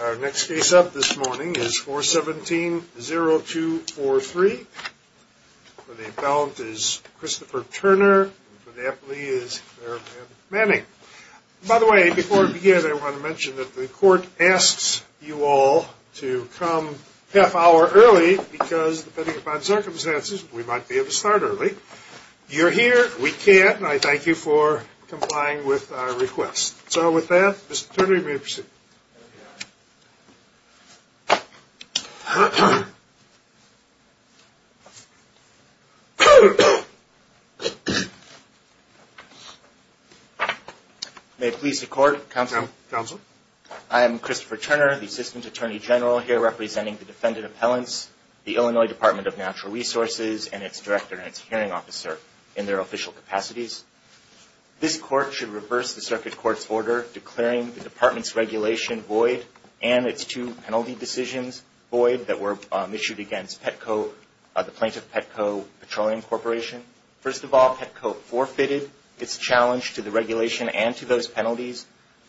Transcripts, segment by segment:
Our next case up this morning is 417-0243. For the appellant is Christopher Turner. For the appellee is Clare Ann Manning. By the way, before we begin, I want to mention that the court asks you all to come half hour early because, depending upon circumstances, we might be able to start early. You're here, we can't, and I thank you for complying with our request. So with that, Mr. Turner, you may proceed. May it please the court, counsel. Counsel. I am Christopher Turner, the Assistant Attorney General here representing the defendant appellants, the Illinois Department of Natural Resources, and its director and its hearing officer in their official capacities. This court should reverse the circuit court's order declaring the department's regulation void and its two penalty decisions void that were issued against Petco, the plaintiff Petco Petroleum Corporation. First of all, Petco forfeited its challenge to the regulation and to those penalties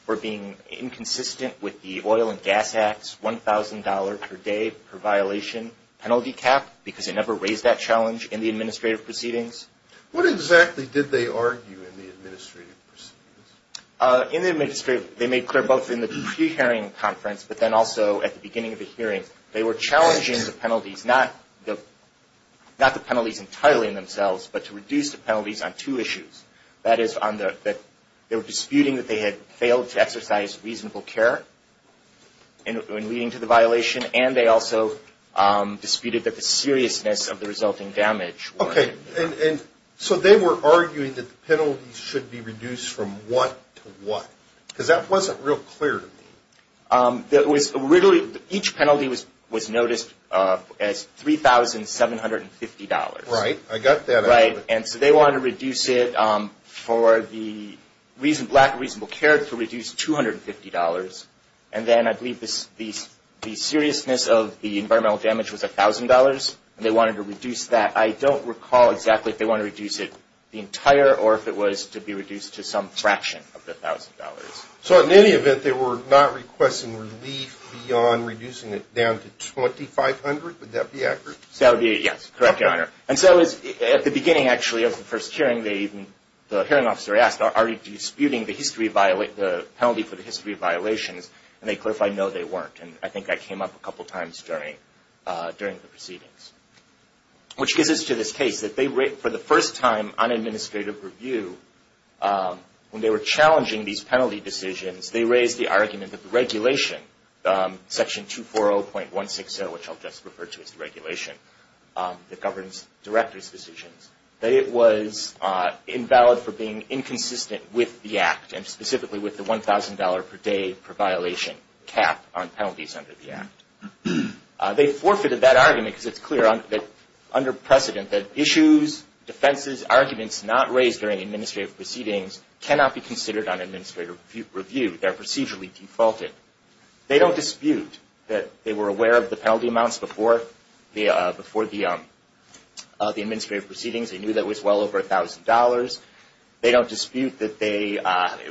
for being inconsistent with the Oil and Gas Act's $1,000 per day per violation penalty cap because it never raised that challenge in the administrative proceedings. What exactly did they argue in the administrative proceedings? In the administrative, they made clear both in the pre-hearing conference, but then also at the beginning of the hearing, they were challenging the penalties, not the penalties entirely in themselves, but to reduce the penalties on two issues. That is, they were disputing that they had failed to exercise reasonable care in leading to the violation, and they also disputed that the seriousness of the resulting damage. So they were arguing that the penalties should be reduced from what to what? Because that wasn't real clear to me. Each penalty was noticed as $3,750. Right, I got that. Right, and so they wanted to reduce it for the lack of reasonable care to reduce $250, and then I believe the seriousness of the environmental damage was $1,000, and they wanted to reduce that. I don't recall exactly if they wanted to reduce it the entire or if it was to be reduced to some fraction of the $1,000. So in any event, they were not requesting relief beyond reducing it down to $2,500? Would that be accurate? That would be it, yes. Correct, Your Honor. And so at the beginning, actually, of the first hearing, the hearing officer asked, are you disputing the penalty for the history of violations? And they clarified, no, they weren't, and I think that came up a couple times during the proceedings. Which gives us to this case that they, for the first time on administrative review, when they were challenging these penalty decisions, they raised the argument that the regulation, Section 240.160, which I'll just refer to as the regulation that governs directors' decisions, that it was invalid for being inconsistent with the Act, and specifically with the $1,000 per day per violation cap on penalties under the Act. They forfeited that argument because it's clear under precedent that issues, defenses, arguments not raised during administrative proceedings cannot be considered on administrative review. They're procedurally defaulted. They don't dispute that they were aware of the penalty amounts before the administrative proceedings. They knew that it was well over $1,000. They don't dispute that they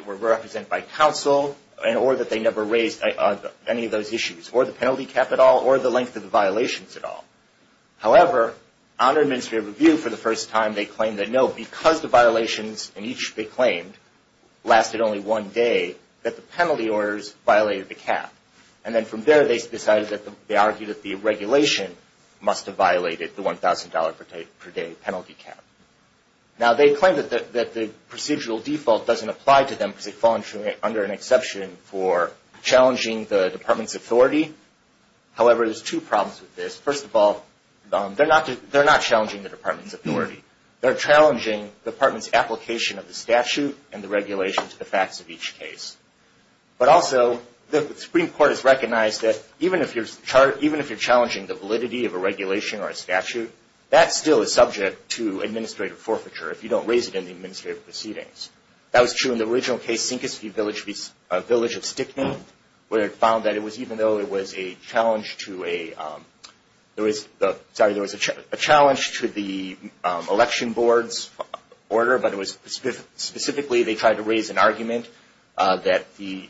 were represented by counsel, or that they never raised any of those issues, or the penalty cap at all, or the length of the violations at all. However, under administrative review, for the first time, they claimed that no, because the violations in each they claimed lasted only one day, that the penalty orders violated the cap. And then from there, they decided that they argued that the regulation must have violated the $1,000 per day penalty cap. Now, they claim that the procedural default doesn't apply to them because they fall under an exception for challenging the department's authority. However, there's two problems with this. First of all, they're not challenging the department's authority. They're challenging the department's application of the statute and the regulation to the facts of each case. But also, the Supreme Court has recognized that even if you're challenging the validity of a regulation or a statute, that still is subject to administrative forfeiture if you don't raise it in the administrative proceedings. That was true in the original case, Sinkisfee Village of Stickman, where it found that even though there was a challenge to the election board's order, but specifically they tried to raise an argument that the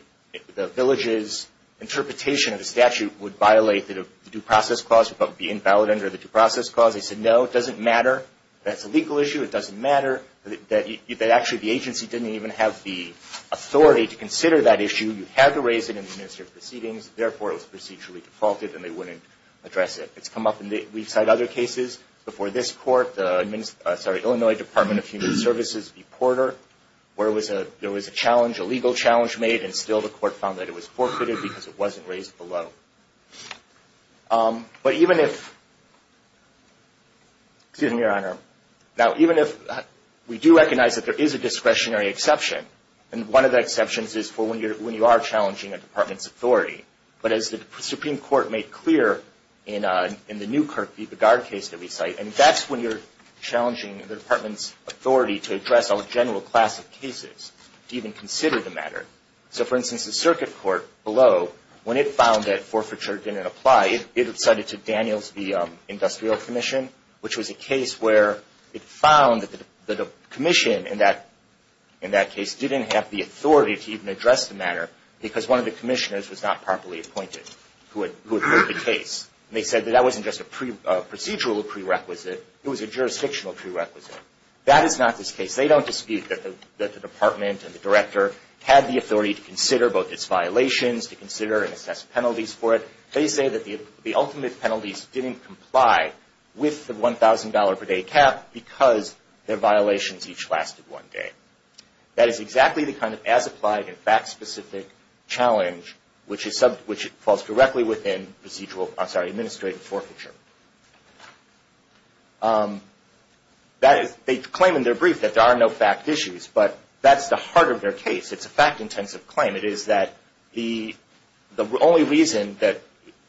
village's interpretation of the statute would violate the due process clause, but would be invalid under the due process clause. They said, no, it doesn't matter. That's a legal issue. It doesn't matter. Actually, the agency didn't even have the authority to consider that issue. You had to raise it in the administrative proceedings. Therefore, it was procedurally defaulted, and they wouldn't address it. It's come up in other cases before this court, the Illinois Department of Human Services v. Porter, where there was a legal challenge made, and still the court found that it was forfeited because it wasn't raised below. Now, even if we do recognize that there is a discretionary exception, and one of the exceptions is for when you are challenging a department's authority, but as the Supreme Court made clear in the new Kirk v. Begard case that we cite, and that's when you're challenging the department's authority to address a general class of cases, to even consider the matter. So, for instance, the circuit court below, when it found that forfeiture didn't apply, it cited to Daniels v. Industrial Commission, which was a case where it found that the commission in that case didn't have the authority to even address the matter because one of the commissioners was not properly appointed who had heard the case. They said that that wasn't just a procedural prerequisite. It was a jurisdictional prerequisite. That is not this case. They don't dispute that the department and the director had the authority to consider both its violations, to consider and assess penalties for it. They say that the ultimate penalties didn't comply with the $1,000 per day cap because their violations each lasted one day. That is exactly the kind of as-applied and fact-specific challenge which falls directly within administrative forfeiture. They claim in their brief that there are no fact issues, but that's the heart of their case. It's a fact-intensive claim. It is that the only reason that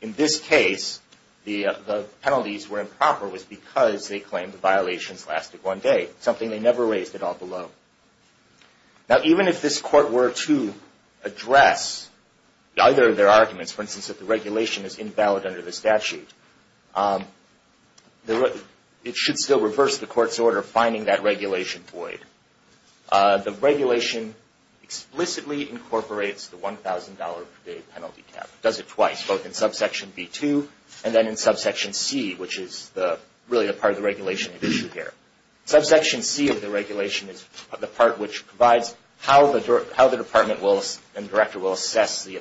in this case the penalties were improper was because they claimed the violations lasted one day, something they never raised at all below. Now, even if this court were to address either of their arguments, for instance, that the regulation is invalid under the statute, it should still reverse the court's order finding that regulation void. The regulation explicitly incorporates the $1,000 per day penalty cap. It does it twice, both in subsection B2 and then in subsection C, which is really the part of the regulation at issue here. Subsection C of the regulation is the part which provides how the department and director will assess the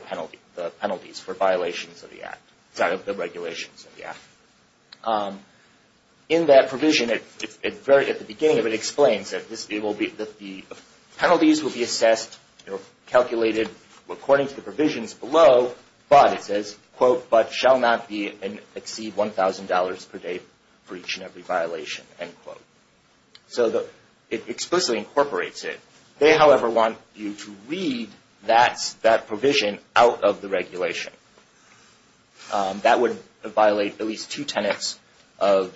penalties for violations of the regulations of the act. In that provision, at the beginning of it, it explains that the penalties will be assessed or calculated according to the provisions below, but it says, quote, but shall not exceed $1,000 per day for each and every violation, end quote. So it explicitly incorporates it. They, however, want you to read that provision out of the regulation. That would violate at least two tenets of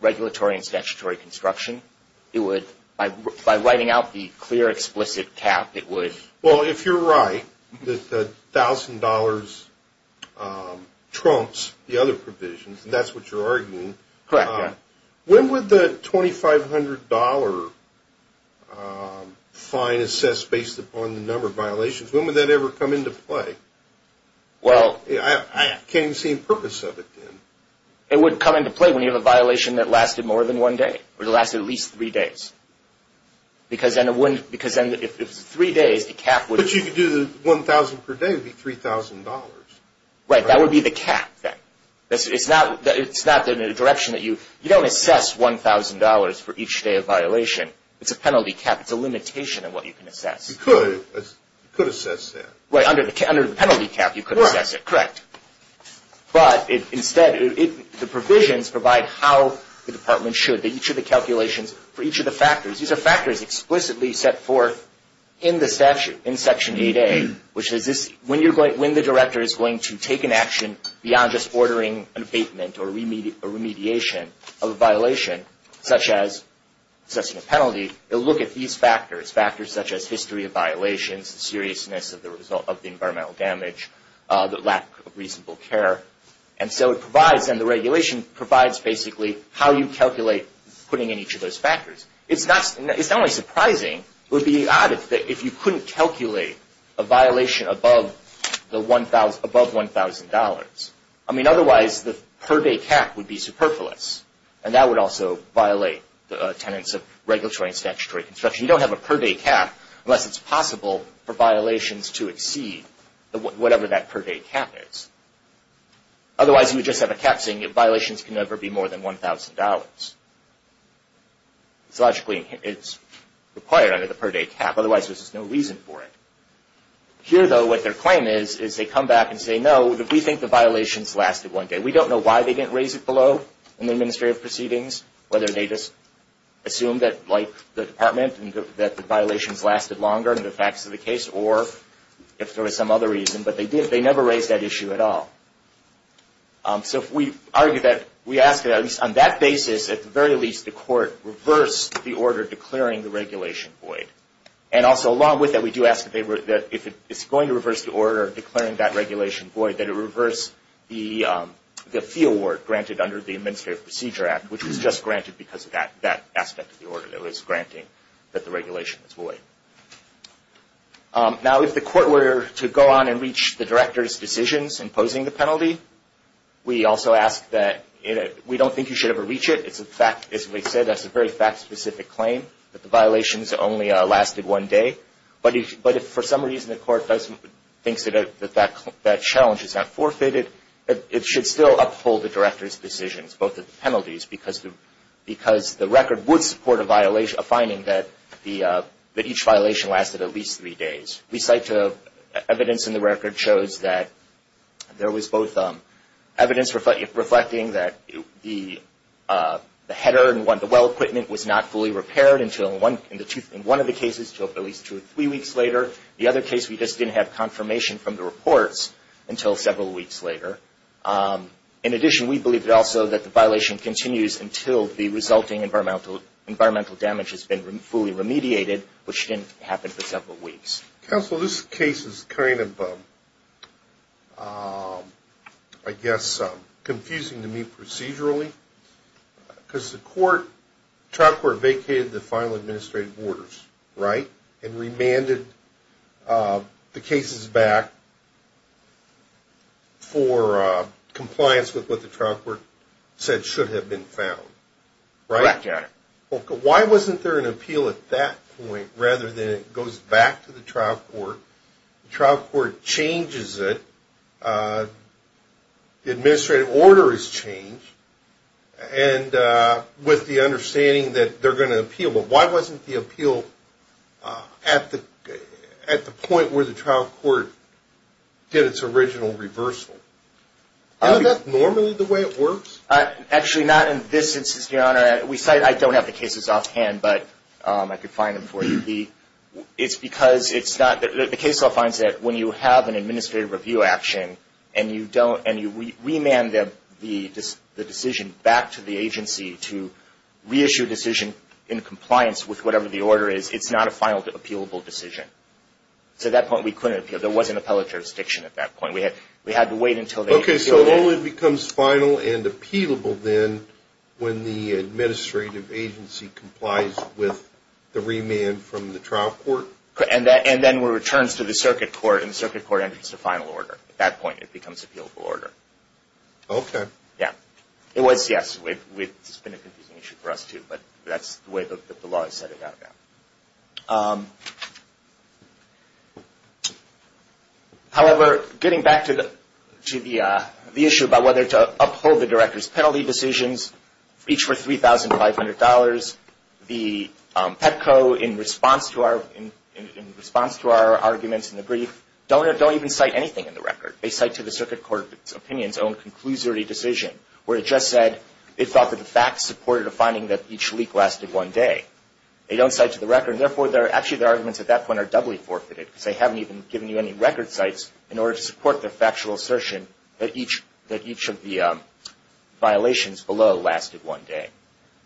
regulatory and statutory construction. It would, by writing out the clear explicit cap, it would. Well, if you're right, that the $1,000 trumps the other provisions, and that's what you're arguing. Correct, yeah. When would the $2,500 fine assessed based upon the number of violations, when would that ever come into play? Well. I can't even see the purpose of it then. It would come into play when you have a violation that lasted more than one day or lasted at least three days. Because then if it's three days, the cap would. But you could do the $1,000 per day would be $3,000. Right, that would be the cap then. It's not the direction that you. You don't assess $1,000 for each day of violation. It's a penalty cap. It's a limitation on what you can assess. You could. You could assess that. Right, under the penalty cap, you could assess it. Correct. But instead, the provisions provide how the department should. Each of the calculations for each of the factors, these are factors explicitly set forth in the statute, in Section 8A, which is when the director is going to take an action beyond just ordering an abatement or remediation of a violation, such as assessing a penalty, they'll look at these factors, factors such as history of violations, seriousness of the environmental damage, the lack of reasonable care. And so it provides, and the regulation provides basically how you calculate putting in each of those factors. It's not only surprising, it would be odd if you couldn't calculate a violation above $1,000. I mean, otherwise the per day cap would be superfluous, and that would also violate the tenets of regulatory and statutory construction. You don't have a per day cap unless it's possible for violations to exceed whatever that per day cap is. Otherwise, you would just have a cap saying violations can never be more than $1,000. So logically, it's required under the per day cap. Otherwise, there's just no reason for it. Here, though, what their claim is, is they come back and say, no, we think the violations lasted one day. We don't know why they didn't raise it below in the administrative proceedings, whether they just assumed that, like the department, that the violations lasted longer than the facts of the case, or if there was some other reason. But they did. They never raised that issue at all. So if we argue that, we ask that at least on that basis, at the very least, the court reverse the order declaring the regulation void. And also along with that, we do ask that if it's going to reverse the order declaring that regulation void, that it reverse the fee award granted under the Administrative Procedure Act, which was just granted because of that aspect of the order that was granting that the regulation was void. Now, if the court were to go on and reach the director's decisions in posing the penalty, we also ask that we don't think you should ever reach it. As we said, that's a very fact-specific claim, that the violations only lasted one day. But if for some reason the court thinks that that challenge is not forfeited, it should still uphold the director's decisions, both the penalties, because the record would support a finding that each violation lasted at least three days. We cite evidence in the record shows that there was both evidence reflecting that the header and the well equipment was not fully repaired in one of the cases until at least two or three weeks later. The other case, we just didn't have confirmation from the reports until several weeks later. In addition, we believe also that the violation continues until the resulting environmental damage has been fully remediated, which didn't happen for several weeks. Counsel, this case is kind of, I guess, confusing to me procedurally, because the trial court vacated the final administrative orders, right, and remanded the cases back for compliance with what the trial court said should have been found, right? Correct, Your Honor. Well, why wasn't there an appeal at that point rather than it goes back to the trial court, the trial court changes it, the administrative order is changed, and with the understanding that they're going to appeal, but why wasn't the appeal at the point where the trial court did its original reversal? Isn't that normally the way it works? Actually, not in this instance, Your Honor. I don't have the cases offhand, but I could find them for you. It's because the case law finds that when you have an administrative review action and you remand the decision back to the agency to reissue a decision in compliance with whatever the order is, it's not a final appealable decision. So at that point we couldn't appeal. There wasn't appellate jurisdiction at that point. We had to wait until they appealed it. Okay, so it only becomes final and appealable then when the administrative agency complies with the remand from the trial court? And then it returns to the circuit court, and the circuit court enters the final order. At that point it becomes appealable order. Okay. Yeah. It was, yes. It's been a confusing issue for us too, but that's the way the law is set about now. However, getting back to the issue about whether to uphold the director's penalty decisions, each for $3,500, the Petco, in response to our arguments in the brief, don't even cite anything in the record. They cite to the circuit court's opinion its own conclusory decision, where it just said it thought that the facts supported a finding that each leak lasted one day. They don't cite to the record. And, therefore, actually their arguments at that point are doubly forfeited because they haven't even given you any record cites in order to support their factual assertion that each of the violations below lasted one day.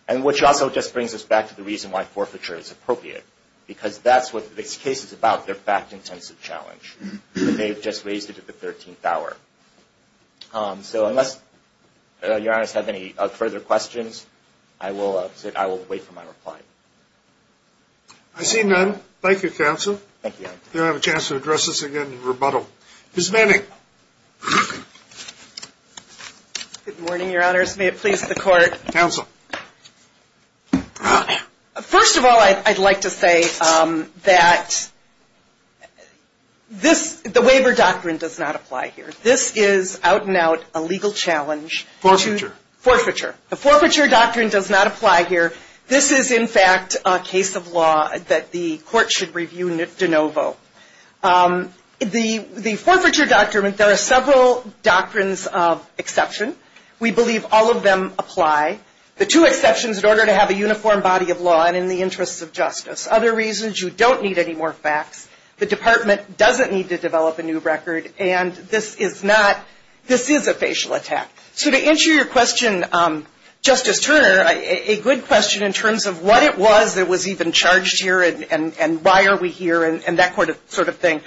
And which also just brings us back to the reason why forfeiture is appropriate, because that's what this case is about, their fact-intensive challenge. So unless your honors have any further questions, I will wait for my reply. I see none. Thank you, counsel. Thank you, your honor. You don't have a chance to address us again in rebuttal. Ms. Manning. Good morning, your honors. May it please the court. Counsel. First of all, I'd like to say that this, the waiver doctrine does not apply here. This is out and out a legal challenge. Forfeiture. Forfeiture. The forfeiture doctrine does not apply here. This is, in fact, a case of law that the court should review de novo. The forfeiture doctrine, there are several doctrines of exception. We believe all of them apply. The two exceptions in order to have a uniform body of law and in the interests of justice. Other reasons, you don't need any more facts. The department doesn't need to develop a new record. And this is not, this is a facial attack. So to answer your question, Justice Turner, a good question in terms of what it was that was even charged here and why are we here and that sort of thing.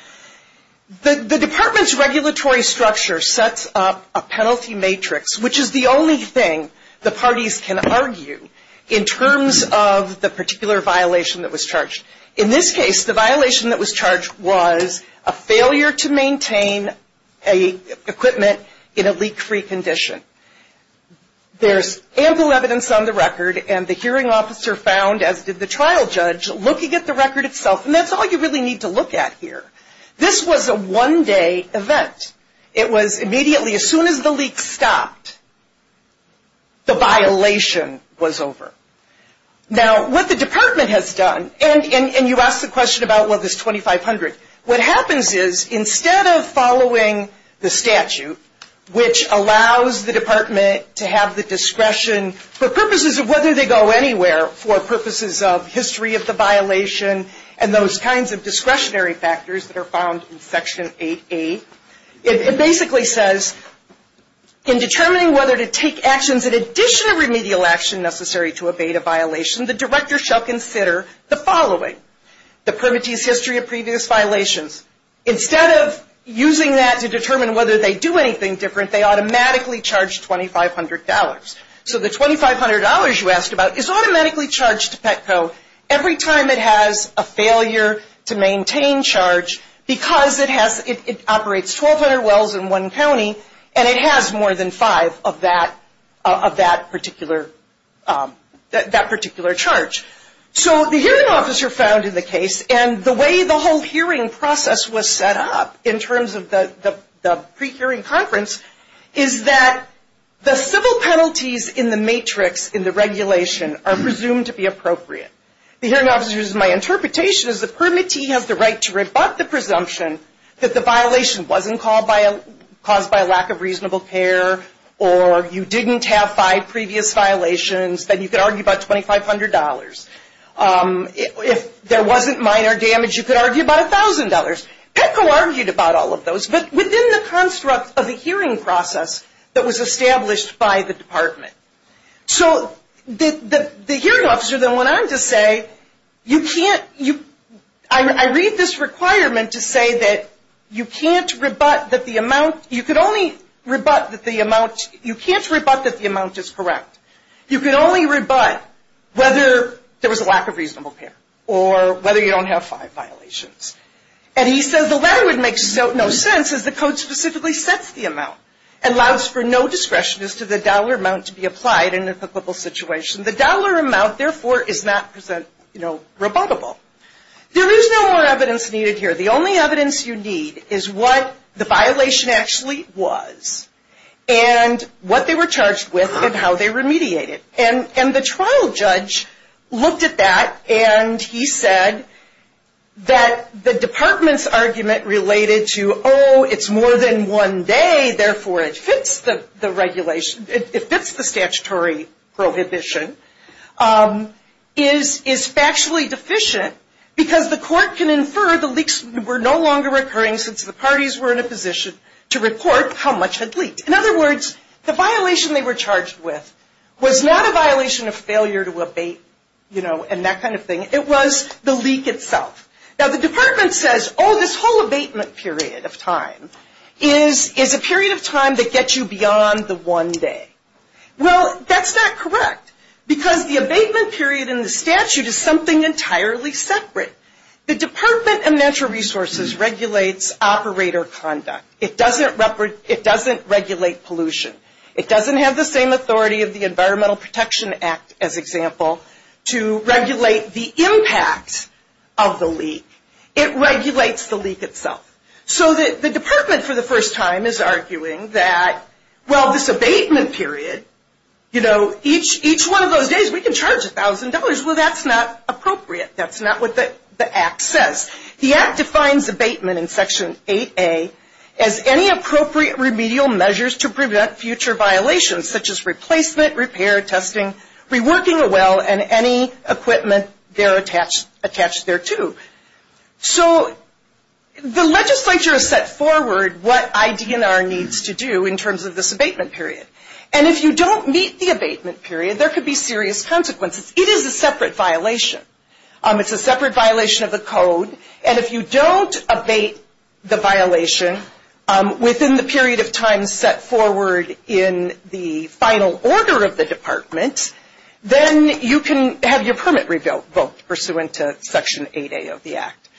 The department's regulatory structure sets up a penalty matrix, which is the only thing the parties can argue in terms of the particular violation that was charged. In this case, the violation that was charged was a failure to maintain equipment in a leak-free condition. There's ample evidence on the record, and the hearing officer found, as did the trial judge, looking at the record itself, and that's all you really need to look at here. This was a one-day event. It was immediately, as soon as the leak stopped, the violation was over. Now, what the department has done, and you asked the question about, well, this 2,500. What happens is, instead of following the statute, which allows the department to have the discretion, for purposes of whether they go anywhere, for purposes of history of the violation and those kinds of discretionary factors that are found in Section 8A, it basically says, in determining whether to take actions in addition to remedial action necessary to evade a violation, the director shall consider the following. The permittees history of previous violations. Instead of using that to determine whether they do anything different, they automatically charge 2,500 dollars. So the 2,500 dollars you asked about is automatically charged to Petco. Every time it has a failure to maintain charge, because it operates 1,200 wells in one county, and it has more than five of that particular charge. So the hearing officer found in the case, and the way the whole hearing process was set up, in terms of the pre-hearing conference, is that the civil penalties in the matrix, in the regulation, are presumed to be appropriate. The hearing officer's interpretation is the permittee has the right to rebut the presumption that the violation wasn't caused by a lack of reasonable care, or you didn't have five previous violations, then you could argue about 2,500 dollars. If there wasn't minor damage, you could argue about 1,000 dollars. Petco argued about all of those, but within the construct of the hearing process that was established by the department. So the hearing officer then went on to say, you can't, I read this requirement to say that you can't rebut that the amount, you could only rebut that the amount, you can't rebut that the amount is correct. You could only rebut whether there was a lack of reasonable care, or whether you don't have five violations. And he says the latter would make no sense, as the code specifically sets the amount, and allows for no discretion as to the dollar amount to be applied in a applicable situation. The dollar amount, therefore, is not rebuttable. There is no more evidence needed here. The only evidence you need is what the violation actually was, and what they were charged with, and how they remediated. And the trial judge looked at that, and he said that the department's argument related to, oh, it's more than one day, therefore it fits the regulation, it fits the statutory prohibition, is factually deficient, because the court can infer the leaks were no longer occurring, since the parties were in a position to report how much had leaked. In other words, the violation they were charged with was not a violation of failure to abate, you know, and that kind of thing. It was the leak itself. Now, the department says, oh, this whole abatement period of time is a period of time that gets you beyond the one day. Well, that's not correct, because the abatement period in the statute is something entirely separate. The Department of Natural Resources regulates operator conduct. It doesn't regulate pollution. It doesn't have the same authority of the Environmental Protection Act, as example, to regulate the impact of the leak. It regulates the leak itself. So that the department, for the first time, is arguing that, well, this abatement period, you know, each one of those days we can charge $1,000. Well, that's not appropriate. That's not what the act says. The act defines abatement in Section 8A as any appropriate remedial measures to prevent future violations, such as replacement, repair, testing, reworking a well, and any equipment there attached thereto. So the legislature has set forward what IDNR needs to do in terms of this abatement period. And if you don't meet the abatement period, there could be serious consequences. It is a separate violation. It's a separate violation of the code. And if you don't abate the violation within the period of time set forward in the final order of the department, then you can have your permit revoked pursuant to Section 8A of the act.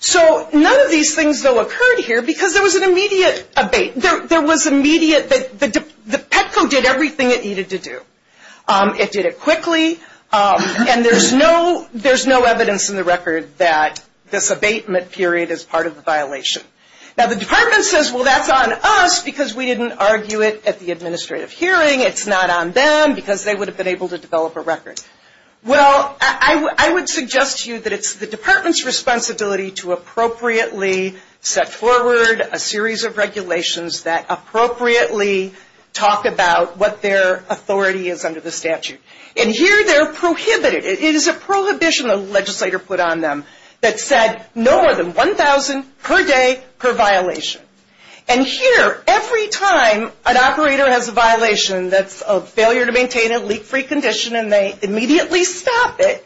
So none of these things, though, occurred here because there was an immediate abate. There was immediate, the Petco did everything it needed to do. It did it quickly. And there's no evidence in the record that this abatement period is part of the violation. Now, the department says, well, that's on us because we didn't argue it at the administrative hearing. It's not on them because they would have been able to develop a record. Well, I would suggest to you that it's the department's responsibility to appropriately set forward a series of regulations that appropriately talk about what their authority is under the statute. And here they're prohibited. It is a prohibition the legislator put on them that said no more than $1,000 per day per violation. And here, every time an operator has a violation that's a failure to maintain a leak-free condition and they immediately stop it,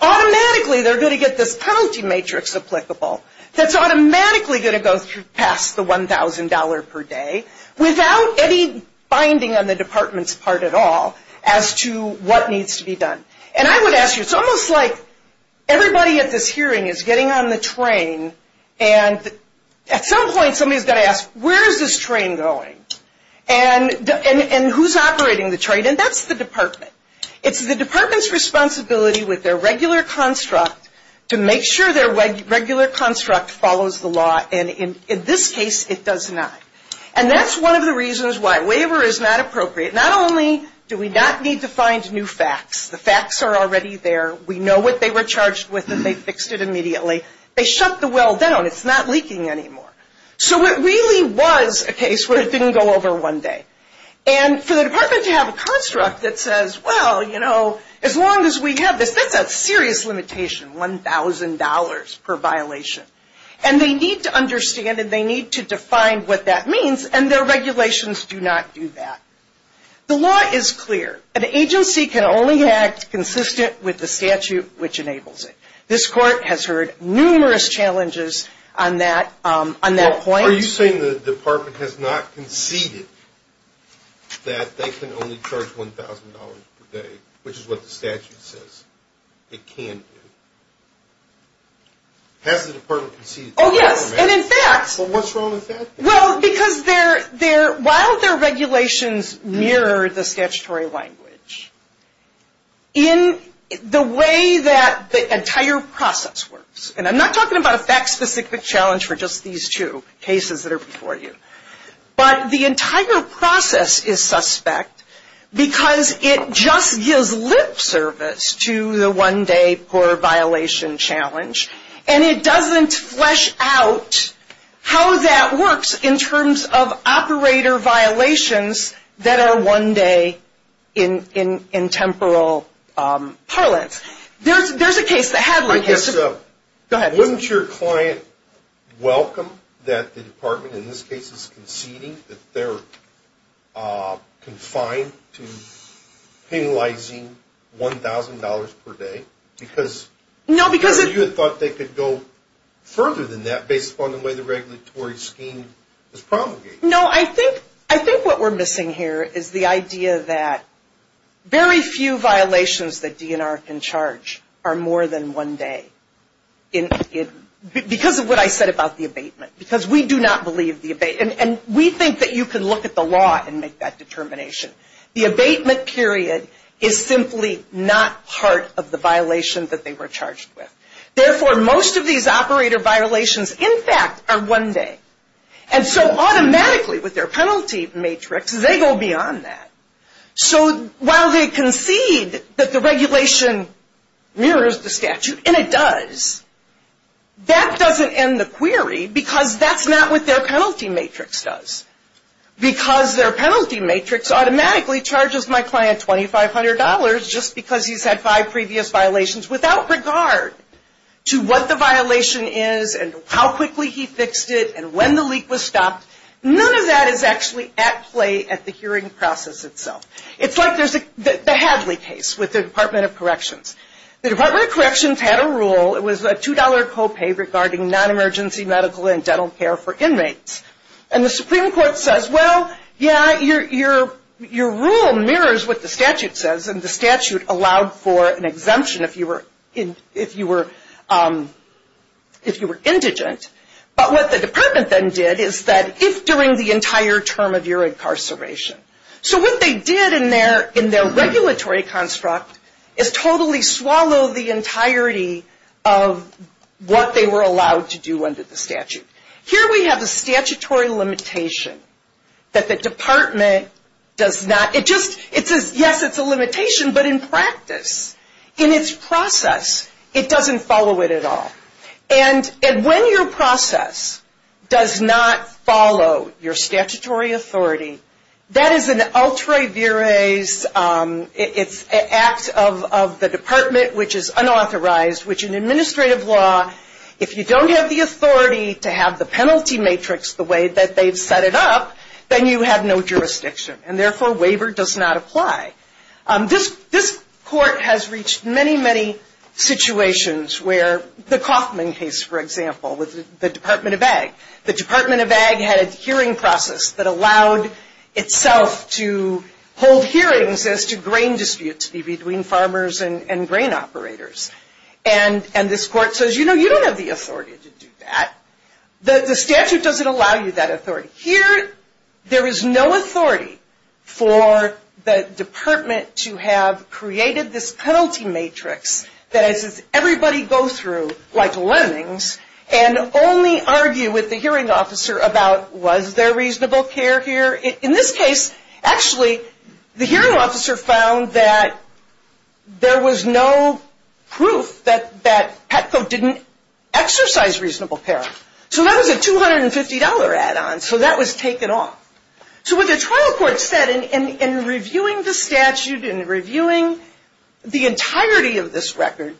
automatically they're going to get this penalty matrix applicable that's automatically going to go past the $1,000 per day without any binding on the department's part at all as to what needs to be done. And I would ask you, it's almost like everybody at this hearing is getting on the train and at some point somebody's going to ask, where is this train going? And who's operating the train? And that's the department. It's the department's responsibility with their regular construct to make sure their regular construct follows the law. And in this case, it does not. And that's one of the reasons why waiver is not appropriate. Not only do we not need to find new facts. The facts are already there. We know what they were charged with and they fixed it immediately. They shut the well down. It's not leaking anymore. So it really was a case where it didn't go over one day. And for the department to have a construct that says, well, you know, as long as we have this, that's a serious limitation, $1,000 per violation. And they need to understand and they need to define what that means. And their regulations do not do that. The law is clear. An agency can only act consistent with the statute which enables it. This court has heard numerous challenges on that point. Are you saying the department has not conceded that they can only charge $1,000 per day, which is what the statute says it can do? Has the department conceded that? Oh, yes. And in fact. What's wrong with that? Well, because while their regulations mirror the statutory language, in the way that the entire process works, and I'm not talking about a fact-specific challenge for just these two cases that are before you, but the entire process is suspect because it just gives lip service to the one-day per-violation challenge. And it doesn't flesh out how that works in terms of operator violations that are one day in temporal parlance. There's a case that had one. Go ahead. Wouldn't your client welcome that the department, in this case, is conceding that they're confined to penalizing $1,000 per day? Because you thought they could go further than that based upon the way the regulatory scheme was promulgated. No, I think what we're missing here is the idea that very few violations that DNR can charge are more than one day. Because of what I said about the abatement. Because we do not believe the abatement. And we think that you can look at the law and make that determination. The abatement period is simply not part of the violation that they were charged with. Therefore, most of these operator violations, in fact, are one day. And so automatically, with their penalty matrix, they go beyond that. So while they concede that the regulation mirrors the statute, and it does, that doesn't end the query. Because that's not what their penalty matrix does. Because their penalty matrix automatically charges my client $2,500 just because he's had five previous violations, without regard to what the violation is and how quickly he fixed it and when the leak was stopped. None of that is actually at play at the hearing process itself. It's like the Hadley case with the Department of Corrections. The Department of Corrections had a rule. It was a $2 copay regarding non-emergency medical and dental care for inmates. And the Supreme Court says, well, yeah, your rule mirrors what the statute says. And the statute allowed for an exemption if you were indigent. But what the department then did is that if during the entire term of your incarceration. So what they did in their regulatory construct is totally swallow the entirety of what they were allowed to do under the statute. Here we have a statutory limitation that the department does not, it just, yes, it's a limitation. But in practice, in its process, it doesn't follow it at all. And when your process does not follow your statutory authority, that is an ultra vires, it's an act of the department which is unauthorized, which in administrative law, if you don't have the authority to have the penalty matrix the way that they've set it up, then you have no jurisdiction. And therefore, waiver does not apply. This court has reached many, many situations where the Kaufman case, for example, with the Department of Ag. The Department of Ag had a hearing process that allowed itself to hold hearings as to grain disputes between farmers and grain operators. And this court says, you know, you don't have the authority to do that. The statute doesn't allow you that authority. Here, there is no authority for the department to have created this penalty matrix that everybody goes through like lemmings and only argue with the hearing officer about was there reasonable care here. In this case, actually, the hearing officer found that there was no proof that Petco didn't exercise reasonable care. So that was a $250 add-on. So that was taken off. So what the trial court said in reviewing the statute and reviewing the entirety of this record,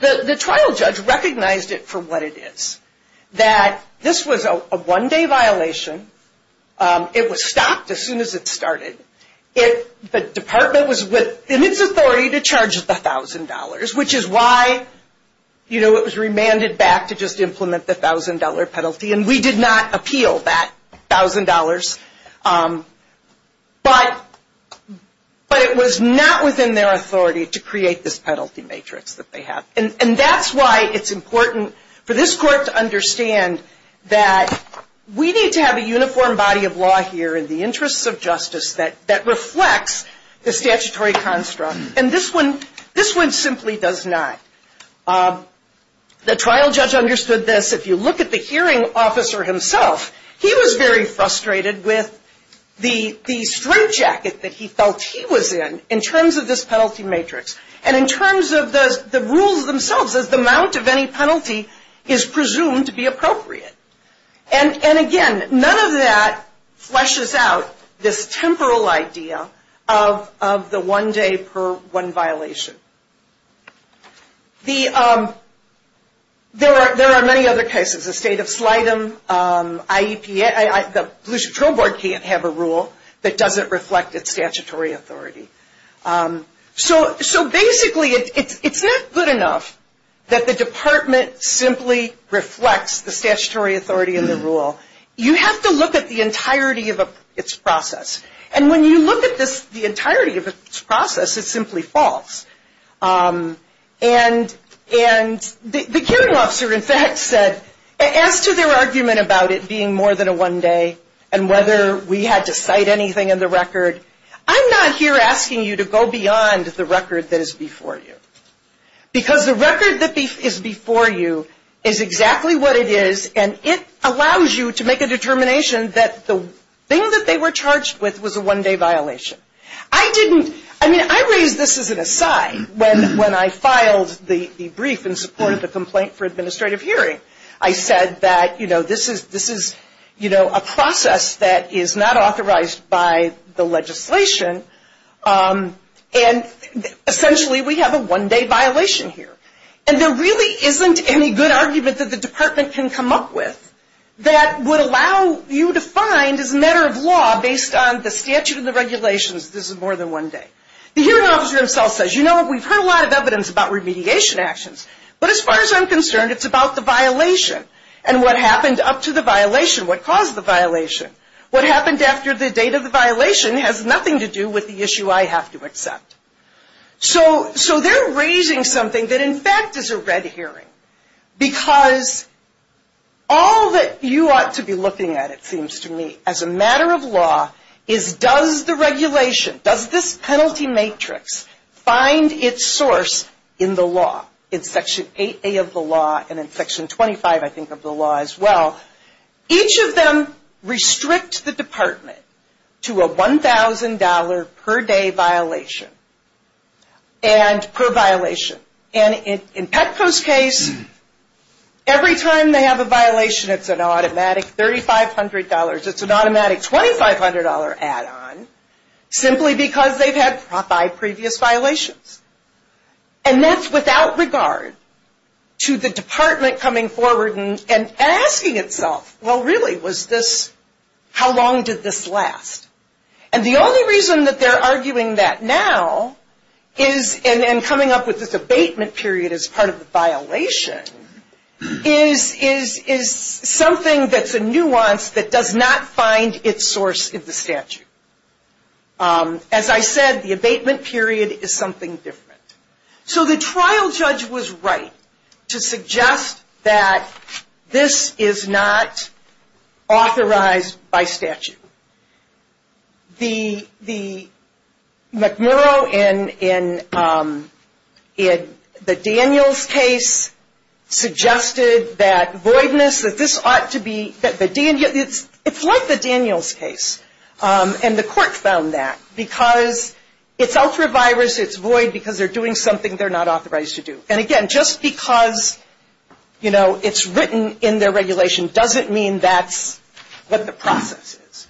the trial judge recognized it for what it is, that this was a one-day violation. It was stopped as soon as it started. The department was in its authority to charge the $1,000, which is why, you know, it was remanded back to just implement the $1,000 penalty. And we did not appeal that $1,000. But it was not within their authority to create this penalty matrix that they have. And that's why it's important for this court to understand that we need to have a uniform body of law here in the interests of justice that reflects the statutory construct. And this one simply does not. The trial judge understood this. If you look at the hearing officer himself, he was very frustrated with the strip jacket that he felt he was in in terms of this penalty matrix and in terms of the rules themselves as the amount of any penalty is presumed to be appropriate. And, again, none of that fleshes out this temporal idea of the one-day per one violation. There are many other cases. The State of Slidham, IEPA. The Blue Ship Trail Board can't have a rule that doesn't reflect its statutory authority. So, basically, it's not good enough that the department simply reflects the statutory authority in the rule. You have to look at the entirety of its process. And when you look at the entirety of its process, it's simply false. And the hearing officer, in fact, said, as to their argument about it being more than a one-day and whether we had to cite anything in the record, I'm not here asking you to go beyond the record that is before you. Because the record that is before you is exactly what it is, and it allows you to make a determination that the thing that they were charged with was a one-day violation. I didn't. I mean, I raised this as an aside when I filed the brief in support of the complaint for administrative hearing. I said that, you know, this is, you know, a process that is not authorized by the legislation. And, essentially, we have a one-day violation here. And there really isn't any good argument that the department can come up with that would allow you to find, as a matter of law, based on the statute and the regulations, this is more than one day. The hearing officer himself says, you know, we've heard a lot of evidence about remediation actions. But as far as I'm concerned, it's about the violation and what happened up to the violation, what caused the violation. What happened after the date of the violation has nothing to do with the issue I have to accept. So they're raising something that, in fact, is a red hearing. Because all that you ought to be looking at, it seems to me, as a matter of law, is does the regulation, does this penalty matrix find its source in the law, in Section 8A of the law and in Section 25, I think, of the law as well. Each of them restrict the department to a $1,000 per day violation and per violation. And in Petco's case, every time they have a violation, it's an automatic $3,500. It's an automatic $2,500 add-on. Simply because they've had five previous violations. And that's without regard to the department coming forward and asking itself, well, really, was this, how long did this last? And the only reason that they're arguing that now is, and coming up with this abatement period as part of the violation, is something that's a nuance that does not find its source in the statute. As I said, the abatement period is something different. So the trial judge was right to suggest that this is not authorized by statute. The McMurrow in the Daniels case suggested that voidness, that this ought to be, it's like the Daniels case. And the court found that. Because it's ultra-virus, it's void because they're doing something they're not authorized to do. And again, just because, you know, it's written in their regulation doesn't mean that's what the process is.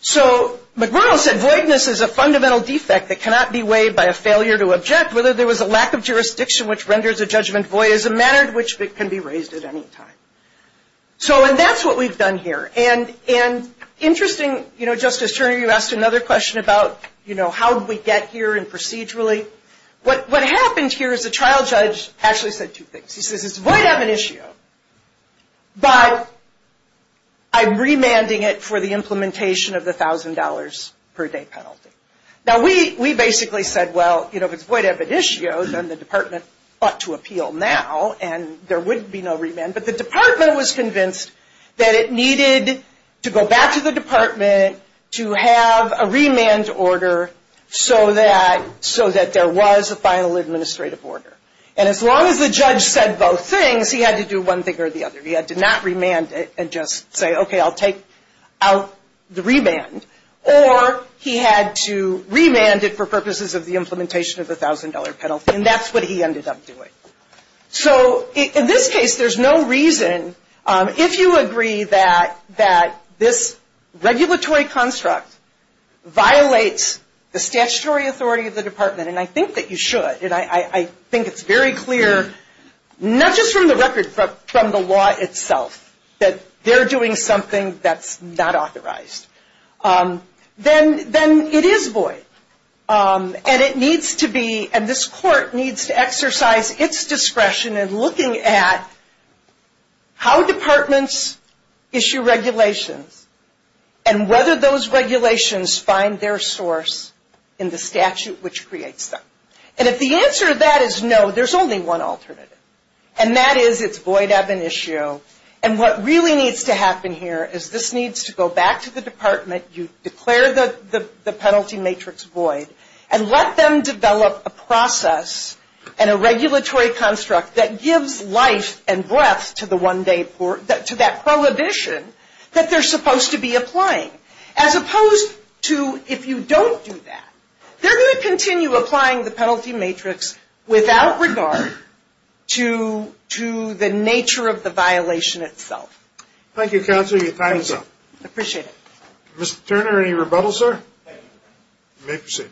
So McMurrow said, voidness is a fundamental defect that cannot be weighed by a failure to object. Whether there was a lack of jurisdiction which renders a judgment void is a matter which can be raised at any time. So, and that's what we've done here. And interesting, you know, Justice Turner, you asked another question about, you know, how did we get here and procedurally. What happens here is the trial judge actually said two things. He says it's void eviditio, but I'm remanding it for the implementation of the $1,000 per day penalty. Now, we basically said, well, you know, if it's void eviditio, then the department ought to appeal now. And there would be no remand. But the department was convinced that it needed to go back to the department to have a remand order so that there was a final administrative order. And as long as the judge said both things, he had to do one thing or the other. He had to not remand it and just say, okay, I'll take out the remand. Or he had to remand it for purposes of the implementation of the $1,000 penalty. And that's what he ended up doing. So in this case, there's no reason, if you agree that this regulatory construct violates the statutory authority of the department, and I think that you should, and I think it's very clear, not just from the record, but from the law itself, that they're doing something that's not authorized, then it is void. And it needs to be, and this court needs to exercise its discretion in looking at how departments issue regulations and whether those regulations find their source in the statute which creates them. And if the answer to that is no, there's only one alternative, and that is it's void eviditio. And what really needs to happen here is this needs to go back to the department, you declare the penalty matrix void, and let them develop a process and a regulatory construct that gives life and breath to that prohibition that they're supposed to be applying. As opposed to if you don't do that. They're going to continue applying the penalty matrix without regard to the nature of the violation itself. Thank you, counsel. You're tying us up. Appreciate it. Mr. Turner, any rebuttal, sir? You may proceed.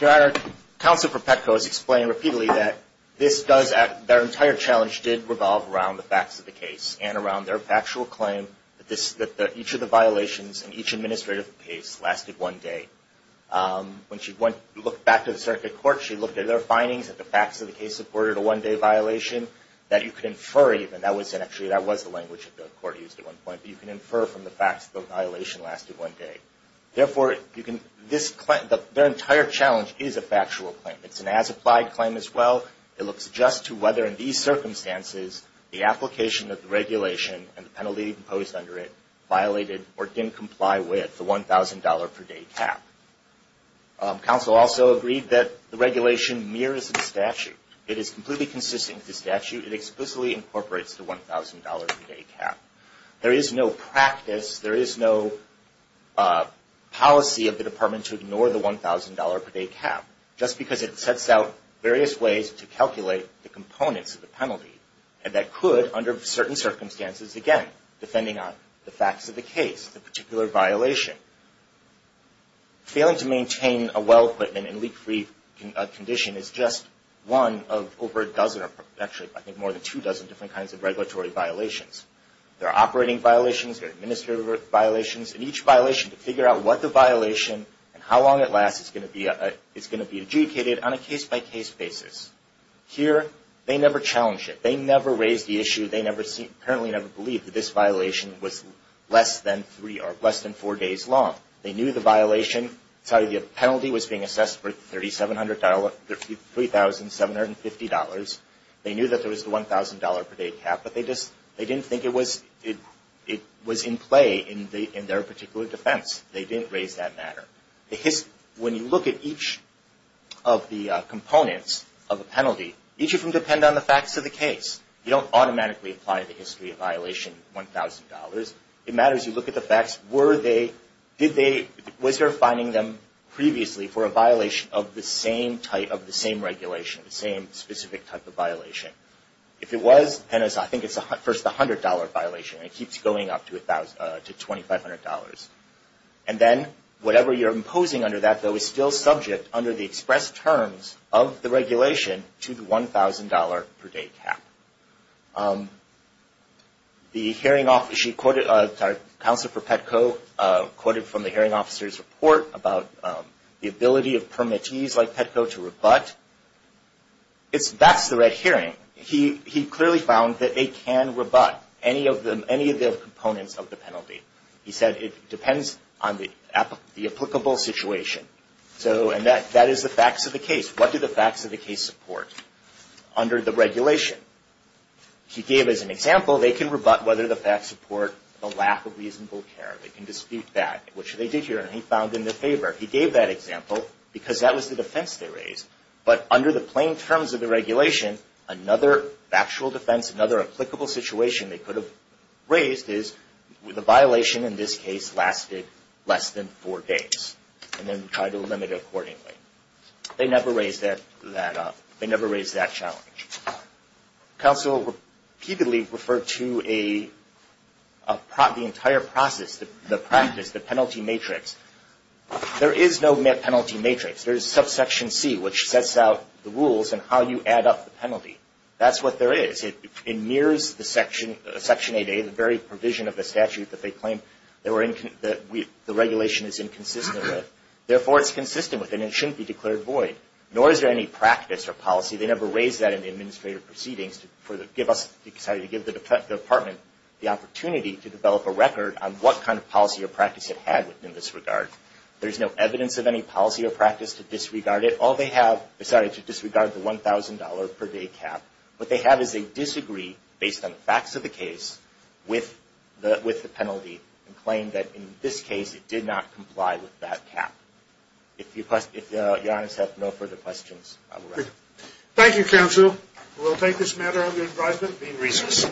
Your Honor, counsel for Petco has explained repeatedly that their entire challenge did revolve around the facts of the case and around their factual claim that each of the violations in each administrative case lasted one day. When she looked back to the circuit court, she looked at their findings, that the facts of the case supported a one-day violation that you could infer even. Actually, that was the language the court used at one point. You can infer from the facts that the violation lasted one day. Therefore, their entire challenge is a factual claim. It's an as-applied claim as well. It looks just to whether in these circumstances the application of the regulation and the penalty imposed under it violated or didn't comply with the $1,000 per day cap. Counsel also agreed that the regulation mirrors the statute. It is completely consistent with the statute. It explicitly incorporates the $1,000 per day cap. There is no practice, there is no policy of the department to ignore the $1,000 per day cap, just because it sets out various ways to calculate the components of the penalty. And that could, under certain circumstances, again, depending on the facts of the case, the particular violation. Failing to maintain a well equipment in leak-free condition is just one of over a dozen, actually I think more than two dozen, different kinds of regulatory violations. There are operating violations, there are administrative violations, and each violation, to figure out what the violation and how long it lasts, it's going to be adjudicated on a case-by-case basis. Here, they never challenged it. They never raised the issue. They apparently never believed that this violation was less than four days long. They knew the penalty was being assessed for $3,750. They knew that there was the $1,000 per day cap, but they didn't think it was in play in their particular defense. They didn't raise that matter. When you look at each of the components of a penalty, each of them depend on the facts of the case. You don't automatically apply the history of violation $1,000. It matters you look at the facts. Were they, did they, was there finding them previously for a violation of the same type, of the same regulation, the same specific type of violation? If it was, then I think it's first the $100 violation, and it keeps going up to $2,500. And then, whatever you're imposing under that, though, is still subject, under the express terms of the regulation, to the $1,000 per day cap. The hearing officer, she quoted, sorry, Counselor for Petco quoted from the hearing officer's report about the ability of permittees like Petco to rebut. That's the red herring. He clearly found that they can rebut any of the components of the penalty. He said it depends on the applicable situation. So, and that is the facts of the case. What do the facts of the case support under the regulation? He gave as an example, they can rebut whether the facts support the lack of reasonable care. They can dispute that, which they did here, and he found in their favor. He gave that example because that was the defense they raised. But under the plain terms of the regulation, another factual defense, another applicable situation they could have raised is the violation in this case lasted less than four days. And then try to limit it accordingly. They never raised that up. They never raised that challenge. Counsel repeatedly referred to the entire process, the practice, the penalty matrix. There is no penalty matrix. There is subsection C, which sets out the rules and how you add up the penalty. That's what there is. It mirrors the Section 8A, the very provision of the statute that they claim the regulation is inconsistent with. Therefore, it's consistent with it, and it shouldn't be declared void. Nor is there any practice or policy. They never raised that in the administrative proceedings to give the department the opportunity to develop a record on what kind of policy or practice it had in this regard. There is no evidence of any policy or practice to disregard it. All they have is to disregard the $1,000 per day cap. What they have is they disagree, based on the facts of the case, with the penalty and claim that in this case it did not comply with that cap. If Your Honors have no further questions, I will wrap up. Thank you, Counsel. We'll take this matter under advisement, being recessed.